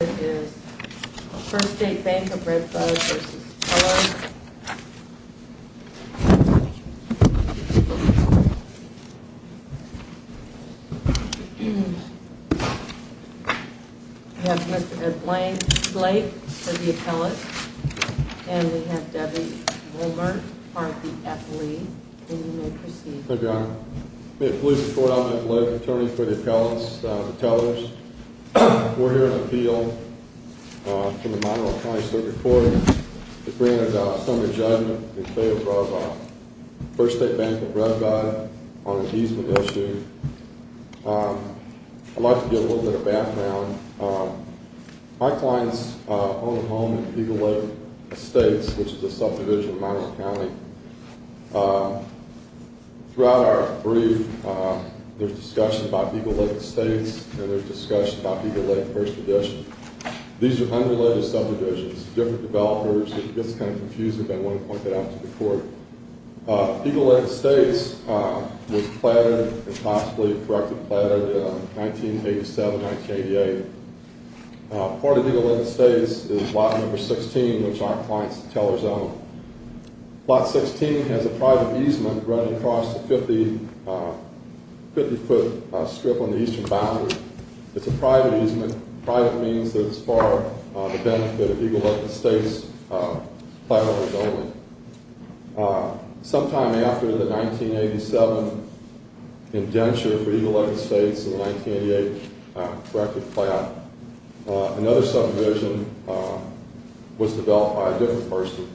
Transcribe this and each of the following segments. We have Mr. Ed Blank for the appellate, and we have Debbie Wilmer, part of the affilie. And you may proceed. My name is Ed Blank. I'm a police attorney for the appellants, the Tellors. We're here to appeal to the Monroe County Circuit Court to bring a summary judgment in favor of First State Bank of Red Bud on an easement issue. I'd like to give a little bit of background. My clients own a home in Eagle Lake Estates, which is a subdivision in Monroe County. Throughout our brief, there's discussion about Eagle Lake Estates, and there's discussion about Eagle Lake First Division. These are unrelated subdivisions, different developers. It gets kind of confusing, but I wanted to point that out to the court. Eagle Lake Estates was planted, if possibly correctly planted, in 1987-1988. Part of Eagle Lake Estates is lot number 16, which our clients, the Tellors, own. Lot 16 has a private easement running across the 50-foot strip on the eastern boundary. It's a private easement. Private means that it's for the benefit of Eagle Lake Estates' plan owners only. Sometime after the 1987 indenture for Eagle Lake Estates and the 1988 corrective plan, another subdivision was developed by a different person.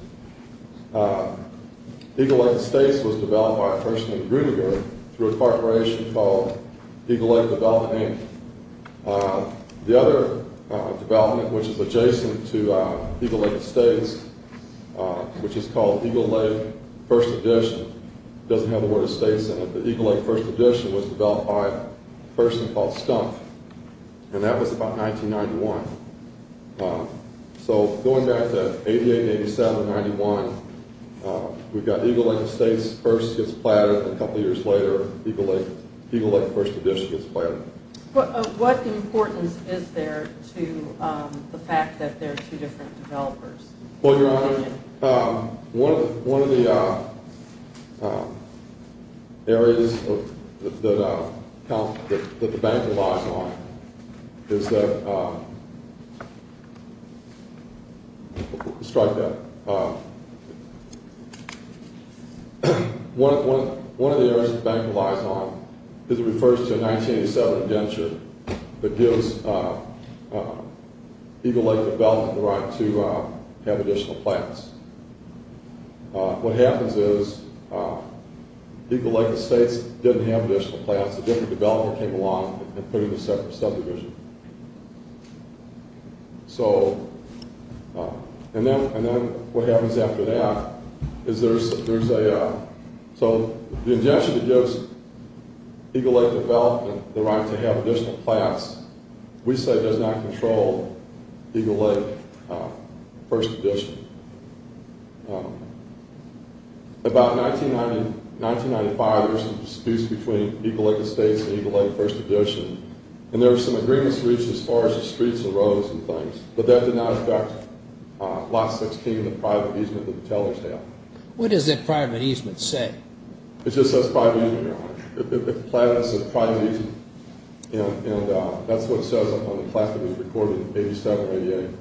Eagle Lake Estates was developed by a person named Gruninger through a corporation called Eagle Lake Development Inc. The other development, which is adjacent to Eagle Lake Estates, which is called Eagle Lake First Edition, doesn't have the word Estates in it, but Eagle Lake First Edition was developed by a person called Stumpf, and that was about 1991. So going back to 1988, 1987, 1991, we've got Eagle Lake Estates first gets planted, and a couple years later, Eagle Lake First Edition gets planted. What importance is there to the fact that there are two different developers? Well, Your Honor, one of the areas that the bank relies on is that—let's try that. One of the areas the bank relies on is it refers to a 1987 indenture that gives Eagle Lake Development the right to have additional plants. What happens is Eagle Lake Estates didn't have additional plants. A different developer came along and put in a separate subdivision. And then what happens after that is there's a—so the indenture that gives Eagle Lake Development the right to have additional plants, we say does not control Eagle Lake First Edition. About 1995, there were some disputes between Eagle Lake Estates and Eagle Lake First Edition, and there were some agreements reached as far as the streets and roads and things, but that did not affect Lot 16 and the private easement that the tellers have. What does that private easement say? It just says private easement, Your Honor. The plant is a private easement, and that's what it says on the plant that was recorded in 87-88.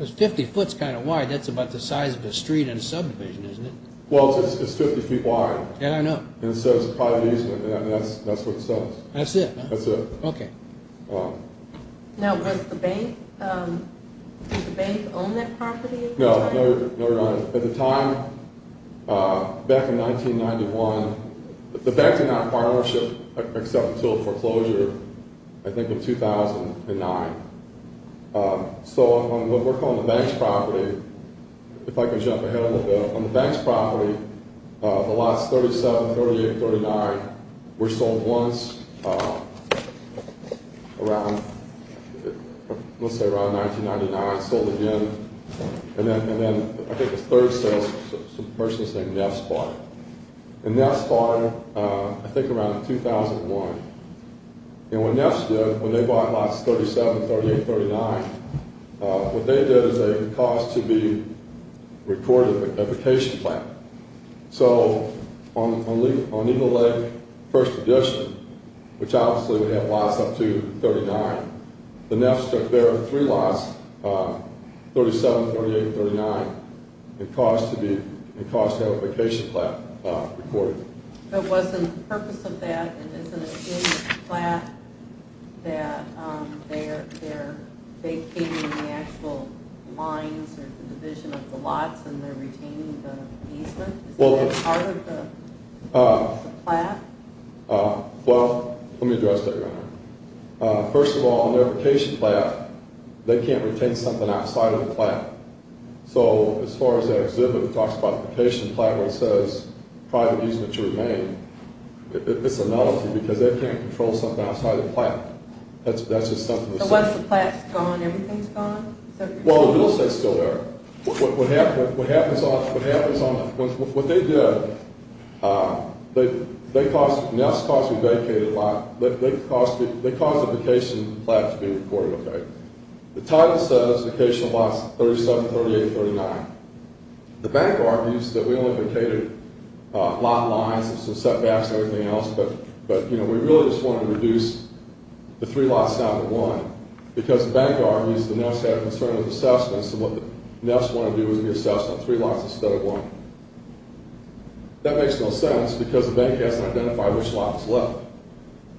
It's 50 foots kind of wide. That's about the size of a street in a subdivision, isn't it? Well, it's 50 feet wide. Yeah, I know. And it says private easement, and that's what it says. That's it, huh? That's it. Okay. Now, does the bank own that property? No, Your Honor. At the time, back in 1991, the bank did not acquire or accept until foreclosure, I think, in 2009. So, we're on the bank's property. If I could jump ahead a little bit. On the bank's property, the lots 37, 38, 39 were sold once around, let's say around 1999. Sold again, and then I think a third sale, a person named Neff's bought it. And Neff's bought it, I think, around 2001. And what Neff's did, when they bought lots 37, 38, 39, what they did is they caused it to be recorded in a vacation plan. So, on Eagle Lake, First Edition, which obviously would have lots up to 39, the Neff's took their three lots, 37, 38, 39, and caused to have a vacation plan recorded. But wasn't the purpose of that, and isn't it in the plan that they came in the actual lines or the division of the lots and they're retaining the easement? Is that part of the plan? Well, let me address that, Your Honor. First of all, in their vacation plan, they can't retain something outside of the plan. So, as far as that exhibit that talks about the vacation plan where it says private easement to remain, it's a nullity because they can't control something outside of the plan. So once the plan's gone, everything's gone? Well, the real estate's still there. What they did, Neff's caused a vacation plan to be recorded, okay? The title says vacation lots 37, 38, 39. The bank argues that we only vacated lot lines and some setbacks and everything else, but we really just wanted to reduce the three lots down to one. Because the bank argues the Neff's had a concern with assessments and what the Neff's wanted to do was reassess on three lots instead of one. That makes no sense because the bank hasn't identified which lot was left.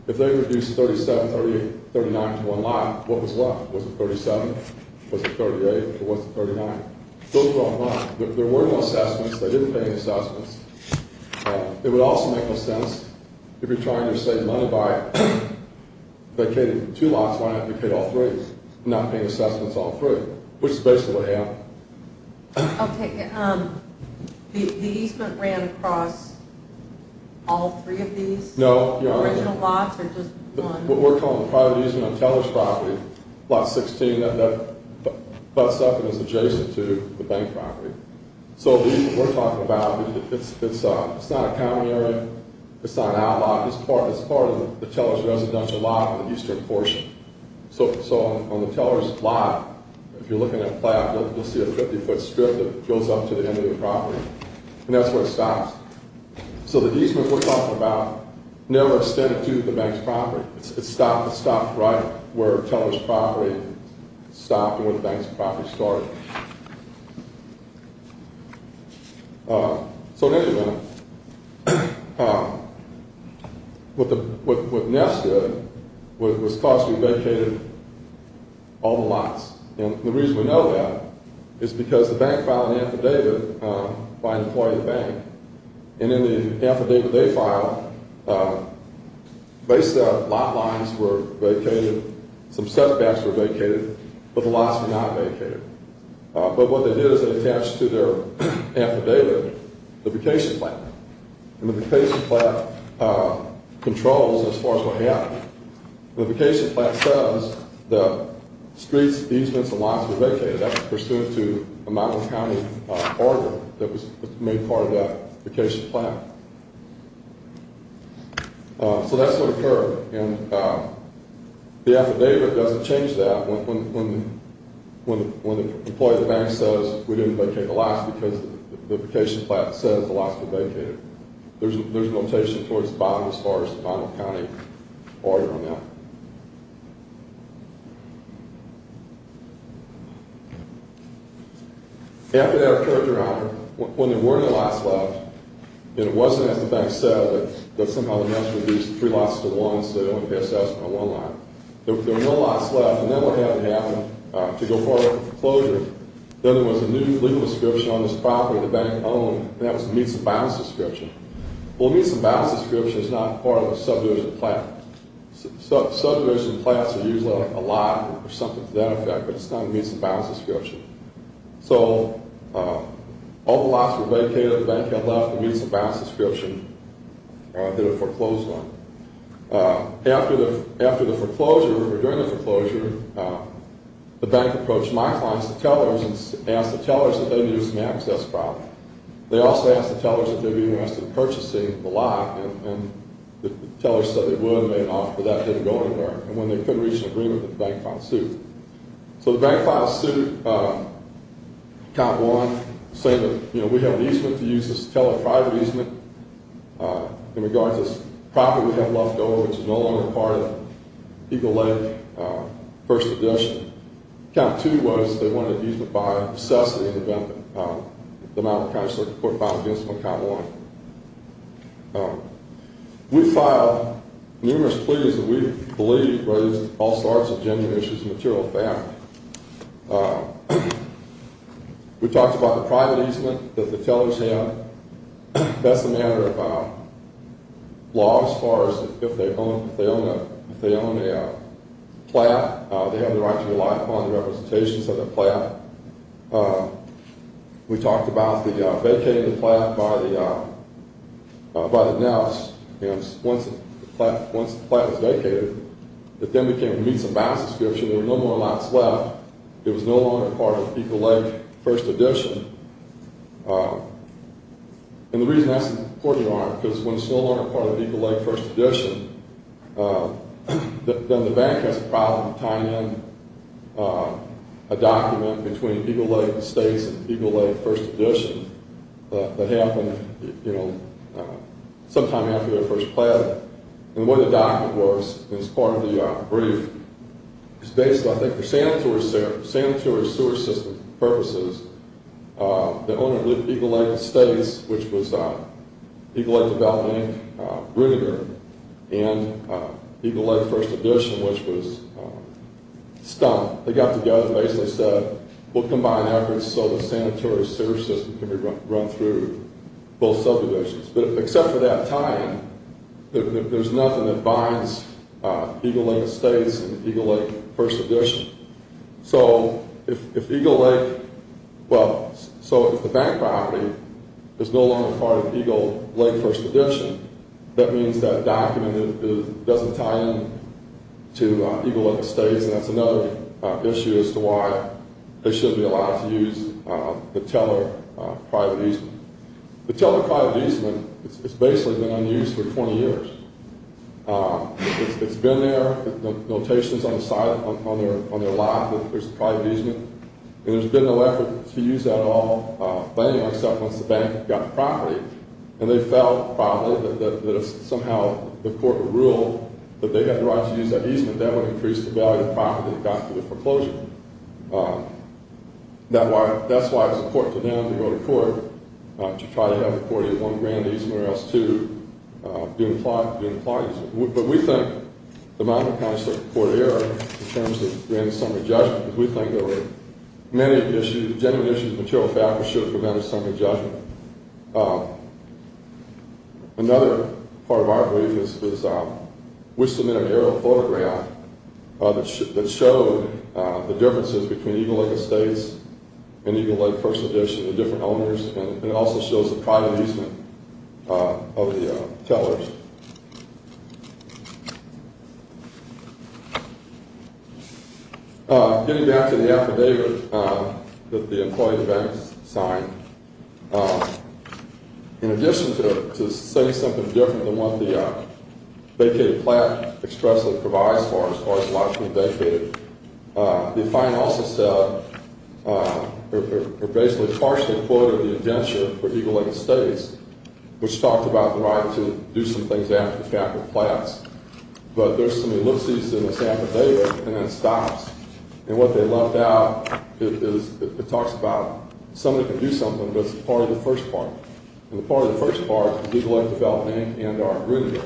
If they reduced 37, 38, 39 to one lot, what was left? Was it 37? Was it 38? Or was it 39? Those were on one. There were no assessments. They didn't pay assessments. It would also make no sense if you're trying to save money by vacating two lots, why not vacate all three and not pay assessments all three, which is basically what happened. Okay. The easement ran across all three of these? No. The original lots or just one? What we're calling private easement on Teller's property, lot 16, that's adjacent to the bank property. So what we're talking about, it's not a common area. It's not an out lot. It's part of the Teller's residential lot in the eastern portion. So on the Teller's lot, if you're looking at a plot, you'll see a 50-foot strip that goes up to the end of the property, and that's where it stops. So the easement we're talking about never extended to the bank's property. It stopped right where Teller's property stopped and where the bank's property started. So in any event, what NEST did was thought to be vacated all the lots. And the reason we know that is because the bank filed an affidavit by an employee of the bank, and in the affidavit they filed, they said lot lines were vacated, some setbacks were vacated, but the lots were not vacated. But what they did is they attached to their affidavit the vacation plan, and the vacation plan controls as far as what happened. The vacation plan says the streets, easements, and lots were vacated. That was pursuant to a Monmouth County order that was made part of that vacation plan. So that's what occurred, and the affidavit doesn't change that when the employee of the bank says we didn't vacate the lots because the vacation plan says the lots were vacated. There's a notation towards the bottom as far as the Monmouth County order on that. After that occurred, Your Honor, when there were no lots left, and it wasn't as the bank said that somehow the NEST reduced the three lots to one so they only passed out on one lot. There were no lots left, and then what happened to go forward with the foreclosure, then there was a new legal description on this property the bank owned, and that was the Meats and Bounds description. Well, the Meats and Bounds description is not part of a subdivision plan. Subdivision plans are usually a lot or something to that effect, but it's not a Meats and Bounds description. So all the lots were vacated, the bank had left the Meats and Bounds description that it foreclosed on. After the foreclosure, or during the foreclosure, the bank approached my clients, the tellers, and asked the tellers if they needed some access property. They also asked the tellers if they would be interested in purchasing the lot, and the tellers said they would and made an offer for that to go anywhere. And when they couldn't reach an agreement, the bank filed suit. So the bank filed suit, count one, saying that, you know, we have an easement to use this teller-private easement in regards to this property we have left over, which is no longer part of the Eagle Lake First Addition. Count two was they wanted an easement by necessity of the amount of cash that the court filed against them on count one. We filed numerous pleas that we believe raised all sorts of genuine issues of material fact. We talked about the private easement that the tellers had. That's a matter of law as far as if they own a plot, they have the right to rely upon the representations of the plot. We talked about the vacating of the plot by the NELS. Once the plot was vacated, it then became, it meets a balance description. There were no more lots left. It was no longer part of the Eagle Lake First Addition. And the reason that's important is because when it's no longer part of the Eagle Lake First Addition, then the bank has a problem tying in a document between Eagle Lake Estates and Eagle Lake First Addition that happened sometime after they were first planted. What the document was, as part of the brief, is basically, I think, for sanitary sewer system purposes, the owner of Eagle Lake Estates, which was Eagle Lake Development Inc., rooted there, and Eagle Lake First Addition, which was stumped. They got together and basically said, we'll combine efforts so the sanitary sewer system can be run through both subdivisions. But except for that tying, there's nothing that binds Eagle Lake Estates and Eagle Lake First Addition. So, if Eagle Lake, well, so if the bank property is no longer part of Eagle Lake First Addition, that means that document doesn't tie in to Eagle Lake Estates, and that's another issue as to why they shouldn't be allowed to use the Teller private easement. The Teller private easement has basically been unused for 20 years. It's been there, the notation's on the side, on their lot, that there's a private easement, and there's been no effort to use that at all, except once the bank got the property. And they felt, probably, that if somehow the court ruled that they had the right to use that easement, that would increase the value of the property that got through the foreclosure. That's why it's important to them to go to court to try to have the property of one grand easement or else two be implied. But we think the Monmouth County Circuit Court of Error, in terms of grand and summary judgment, we think there were many issues, genuine issues, material factors should have prevented summary judgment. Another part of our belief is we submitted an aerial photograph that showed the differences between Eagle Lake Estates and Eagle Lake First Edition, the different owners, and it also shows the private easement of the Tellers. Getting back to the affidavit that the employee of the bank signed, in addition to saying something different than what the vacated plan expressly provides, as far as a lot can be vacated, the client also said, or basically partially quoted the indenture for Eagle Lake Estates, which talked about the right to do some things after the fact with flats. But there's some elipses in this affidavit, and it stops. And what they left out is it talks about somebody can do something, but it's part of the first part. And the part of the first part is Eagle Lake Development Inc. and our agreement.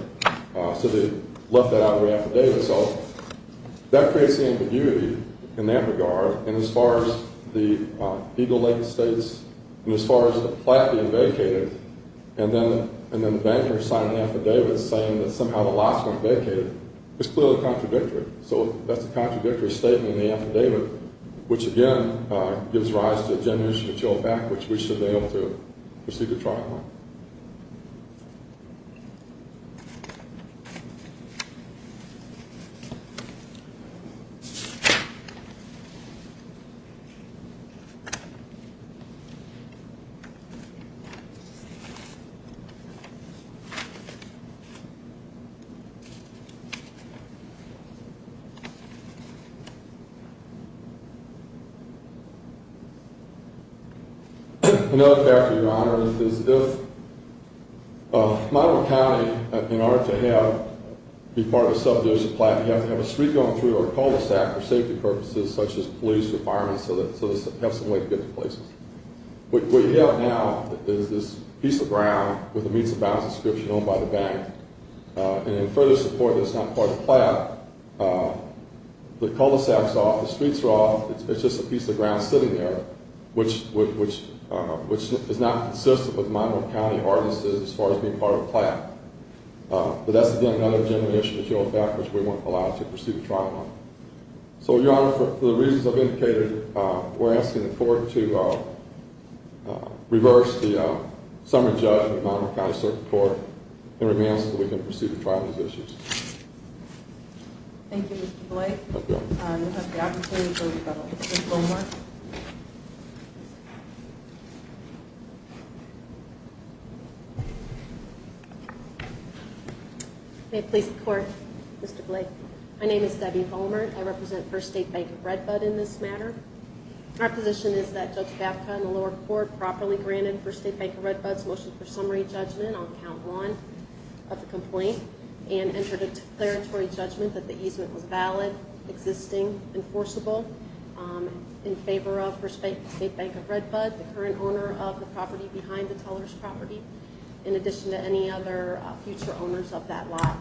So they left that out of the affidavit. So that creates the ambiguity in that regard. And as far as the Eagle Lake Estates, and as far as the flat being vacated, and then the banker signing the affidavit saying that somehow the lots weren't vacated, it's clearly contradictory. So that's a contradictory statement in the affidavit, which again gives rise to a generation to chill back, which we should be able to proceed to trial on. Another factor, Your Honor, is if Monroe County, in order to be part of a subdivision flat, you have to have a street going through or cul-de-sac for safety purposes, such as police or firemen, so they have some way to get to places. What you have now is this piece of ground with a Meats and Bounds inscription on it by the bank. And in further support that it's not part of the flat, the cul-de-sac is off, the streets are off, it's just a piece of ground sitting there, which is not consistent with Monroe County ordinances as far as being part of a flat. But that's again another generation to chill back, which we weren't allowed to proceed to trial on. So, Your Honor, for the reasons I've indicated, we're asking the court to reverse the summary judgment of the Monroe County Circuit Court and remand us so we can proceed to trial on these issues. Thank you, Mr. Blake. We'll have the opportunity for Ms. Vollmer. May it please the Court, Mr. Blake. My name is Debbie Vollmer. I represent First State Bank of Redbud in this matter. My position is that Judge Babcock and the lower court properly granted First State Bank of Redbud's motion for summary judgment on Count 1 of the complaint and entered a declaratory judgment that the easement was valid, existing, enforceable, in favor of First State Bank of Redbud, the current owner of the property behind the teller's property, in addition to any other future owners of that lot,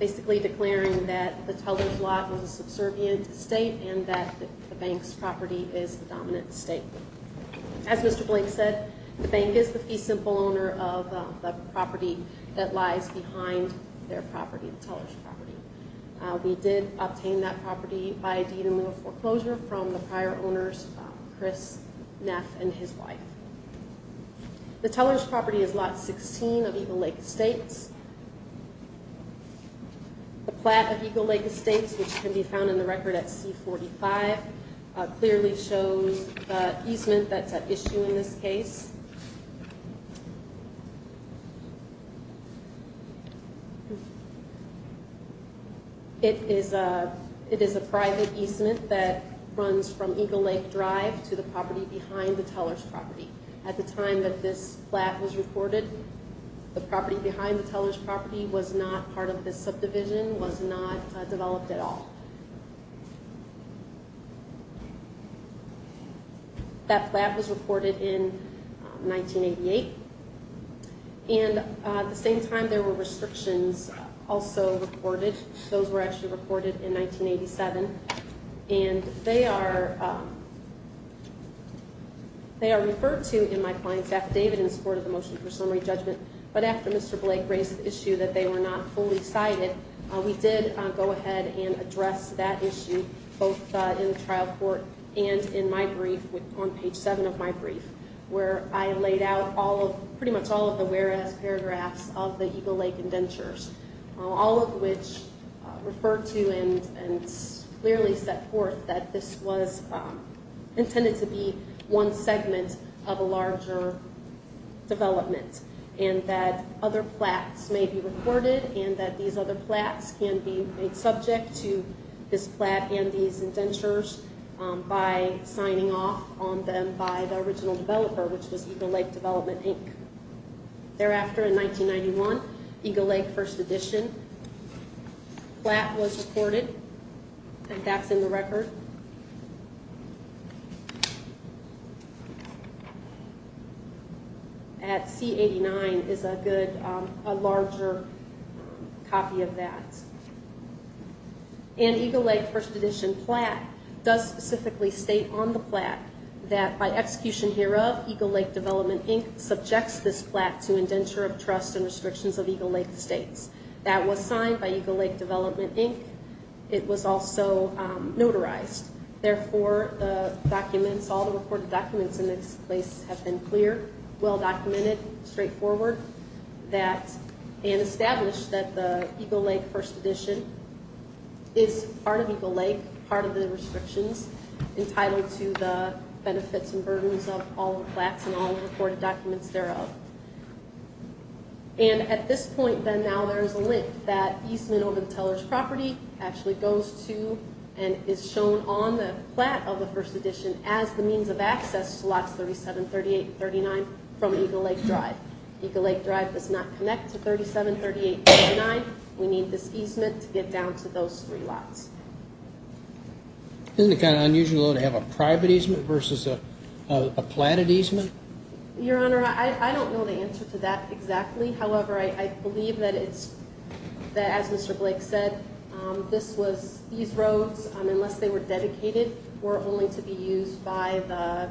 basically declaring that the teller's lot was a subservient state and that the bank's property is the dominant state. As Mr. Blake said, the bank is the fee simple owner of the property that lies behind their property, the teller's property. We did obtain that property by deed in lieu of foreclosure from the prior owners, Chris Neff and his wife. The teller's property is Lot 16 of Eagle Lake Estates. The plat of Eagle Lake Estates, which can be found in the record at C-45, clearly shows the easement that's at issue in this case. It is a private easement that runs from Eagle Lake Drive to the property behind the teller's property. At the time that this plat was recorded, the property behind the teller's property was not part of this subdivision, was not developed at all. That plat was recorded in 1988. At the same time, there were restrictions also recorded. Those were actually recorded in 1987. They are referred to in my client's affidavit in support of the motion for summary judgment, but after Mr. Blake raised the issue that they were not fully cited, we did go ahead and address that issue, both in the trial court and in my brief on page 7 of my brief, where I laid out pretty much all of the whereas paragraphs of the Eagle Lake indentures, all of which refer to and clearly set forth that this was intended to be one segment of a larger development and that other plats may be recorded and that these other plats can be made subject to this plat and these indentures by signing off on them by the original developer, which was Eagle Lake Development, Inc. Thereafter, in 1991, Eagle Lake First Edition plat was recorded, and that's in the record. At C-89 is a larger copy of that. And Eagle Lake First Edition plat does specifically state on the plat that by execution hereof, Eagle Lake Development, Inc. subjects this plat to indenture of trust and restrictions of Eagle Lake Estates. That was signed by Eagle Lake Development, Inc. It was also notarized. Therefore, the documents, all the recorded documents in this place have been clear, well-documented, straightforward, and established that the Eagle Lake First Edition is part of Eagle Lake, part of the restrictions, entitled to the benefits and burdens of all the plats and all the recorded documents thereof. And at this point, then, now, there is a link that easement over the Teller's property actually goes to and is shown on the plat of the First Edition as the means of access to lots 37, 38, and 39 from Eagle Lake Drive. Eagle Lake Drive does not connect to 37, 38, and 39. We need this easement to get down to those three lots. Isn't it kind of unusual, though, to have a private easement versus a platted easement? Your Honor, I don't know the answer to that exactly. However, I believe that it's, as Mr. Blake said, this was, these roads, unless they were dedicated, were only to be used by the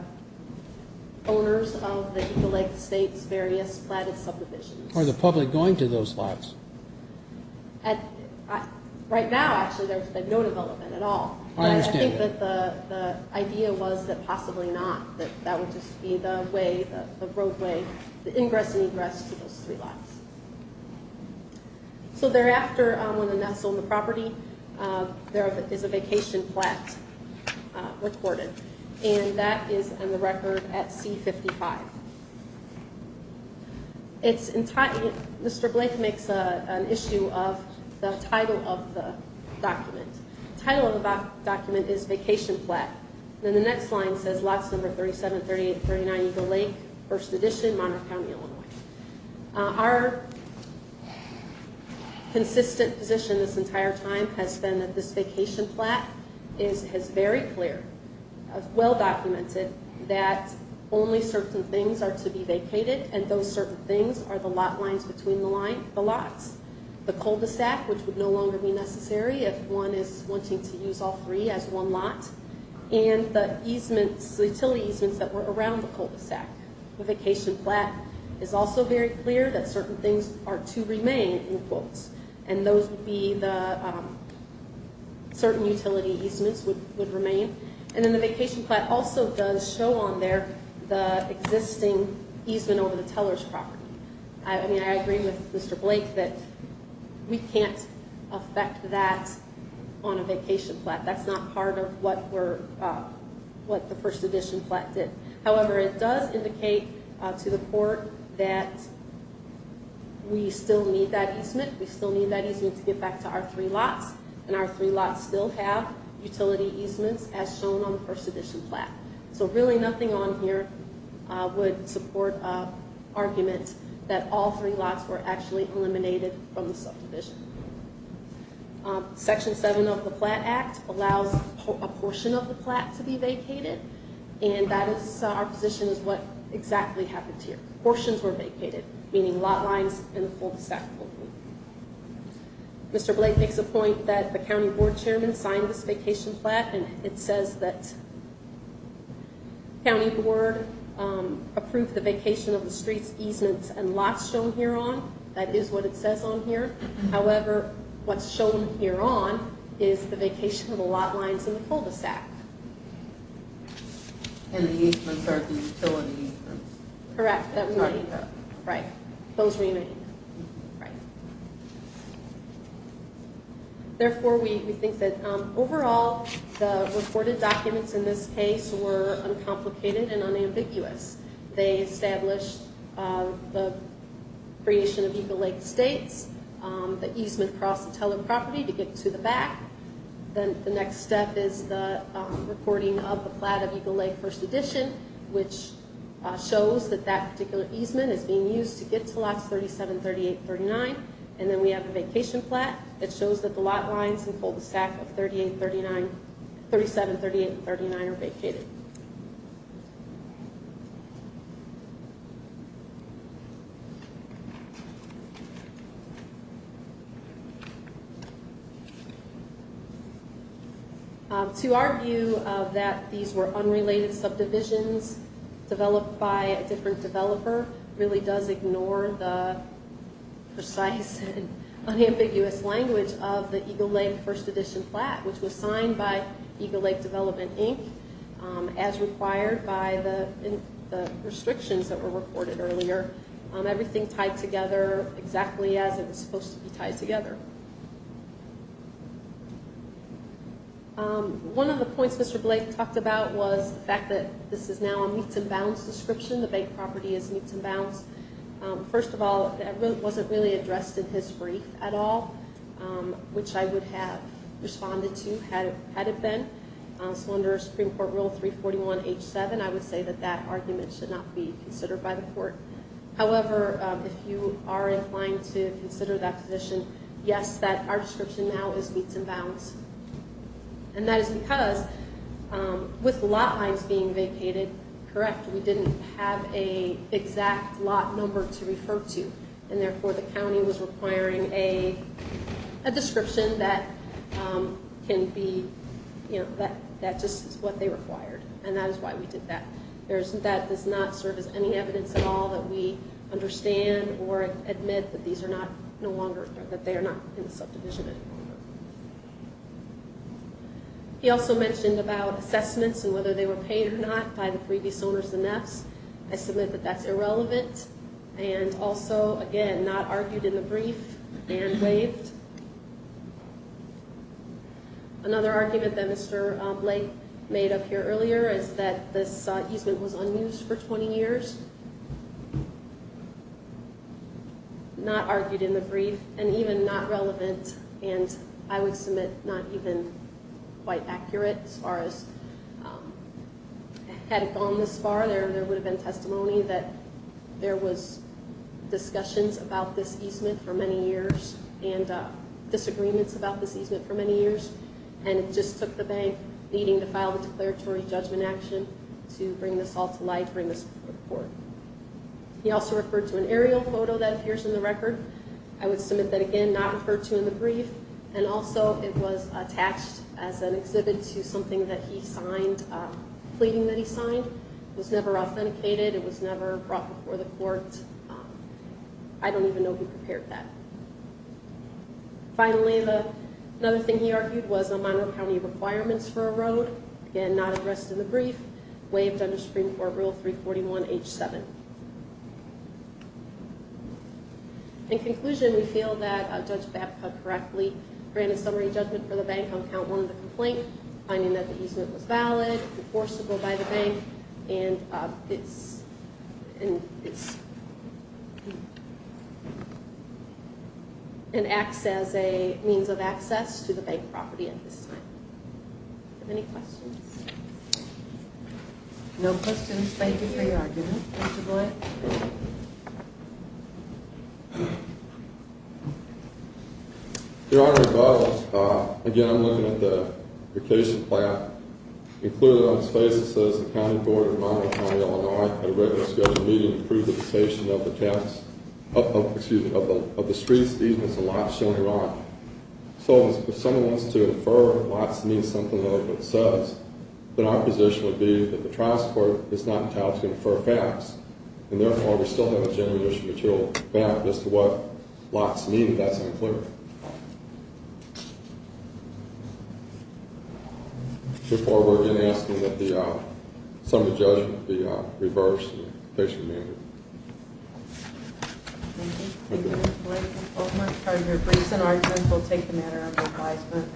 owners of the Eagle Lake Estates' various platted subdivisions. Are the public going to those lots? Right now, actually, there's been no development at all. I understand that. I think that the idea was that possibly not, that that would just be the way, the roadway, the ingress and egress to those three lots. So thereafter, when the Ness owned the property, there is a vacation plat recorded, and that is on the record at C-55. It's entirely, Mr. Blake makes an issue of the title of the document. The title of the document is Vacation Plat. Then the next line says, Lots Number 37, 38, and 39, Eagle Lake, First Edition, Monterey County, Illinois. Our consistent position this entire time has been that this vacation plat is, is very clear, well-documented, that only certain things are to be vacated, and those certain things are the lot lines between the line, the lots. The cul-de-sac, which would no longer be necessary if one is wanting to use all three as one lot, and the easements, utility easements that were around the cul-de-sac. The vacation plat is also very clear that certain things are to remain in quotes, and those would be the certain utility easements would remain. And then the vacation plat also does show on there the existing easement over the teller's property. I mean, I agree with Mr. Blake that we can't affect that on a vacation plat. That's not part of what we're, what the First Edition plat did. However, it does indicate to the court that we still need that easement. We still need that easement to get back to our three lots, and our three lots still have utility easements as shown on the First Edition plat. So really nothing on here would support arguments that all three lots were actually eliminated from the subdivision. Section 7 of the Plat Act allows a portion of the plat to be vacated, and that is our position is what exactly happened here. Portions were vacated, meaning lot lines and the cul-de-sac were vacated. Mr. Blake makes a point that the county board chairman signed this vacation plat, and it says that county board approved the vacation of the streets, easements, and lots shown hereon. That is what it says on here. However, what's shown hereon is the vacation of the lot lines and the cul-de-sac. And the easements are the utility easements. Correct. Right. Those remain. Right. Therefore, we think that overall the reported documents in this case were uncomplicated and unambiguous. They established the creation of Eagle Lake Estates, the easement across the Teller property to get to the back. Then the next step is the reporting of the plat of Eagle Lake First Edition, which shows that that particular easement is being used to get to lots 37, 38, and 39. And then we have the vacation plat. It shows that the lot lines and cul-de-sac of 37, 38, and 39 are vacated. To our view that these were unrelated subdivisions developed by a different developer really does ignore the precise and unambiguous language of the Eagle Lake First Edition plat, which was signed by Eagle Lake Development, Inc. as required by the restrictions that were reported earlier. Everything tied together exactly as it was supposed to be tied together. One of the points Mr. Blake talked about was the fact that this is now a meets and bounds description. The bank property is meets and bounds. First of all, that wasn't really addressed in his brief at all, which I would have responded to had it been. So under Supreme Court Rule 341H7, I would say that that argument should not be considered by the court. However, if you are inclined to consider that position, yes, that our description now is meets and bounds. And that is because with lot lines being vacated, correct, we didn't have an exact lot number to refer to, and therefore the county was requiring a description that just is what they required, and that is why we did that. That does not serve as any evidence at all that we understand or admit that these are not no longer, that they are not in the subdivision anymore. He also mentioned about assessments and whether they were paid or not by the previous owners of the MEPS. I submit that that's irrelevant and also, again, not argued in the brief and waived. Another argument that Mr. Blake made up here earlier is that this easement was unused for 20 years. Not argued in the brief and even not relevant, and I would submit not even quite accurate as far as had it gone this far. There would have been testimony that there was discussions about this easement for many years, and disagreements about this easement for many years, and it just took the bank needing to file a declaratory judgment action to bring this all to light, bring this before the court. He also referred to an aerial photo that appears in the record. I would submit that, again, not referred to in the brief. And also it was attached as an exhibit to something that he signed, a pleading that he signed. It was never authenticated. It was never brought before the court. I don't even know if he prepared that. Finally, another thing he argued was no minor county requirements for a road. Again, not addressed in the brief. Waived under Supreme Court Rule 341H7. In conclusion, we feel that Judge Babcock correctly granted summary judgment for the bank on count one of the complaint, finding that the easement was valid, enforceable by the bank, and acts as a means of access to the bank property at this time. Any questions? No questions. Thank you for your argument, Mr. Blunt. Thank you. Your Honor, as well, again, I'm looking at the vacation plan. Included on the space, it says the County Board of Minor County, Illinois, had written a scheduled meeting to approve the cessation of the streets, easements, and lots in Iraq. So if someone wants to infer lots means something like what it says, then our position would be that the trial support is not entitled to infer facts, and therefore, we still have a general issue material back as to what lots mean. That's unclear. Therefore, we're again asking that the summary judgment be reversed and case remanded. Thank you. Thank you, Mr. Blunt. Your briefs and arguments will take the manner of advisement.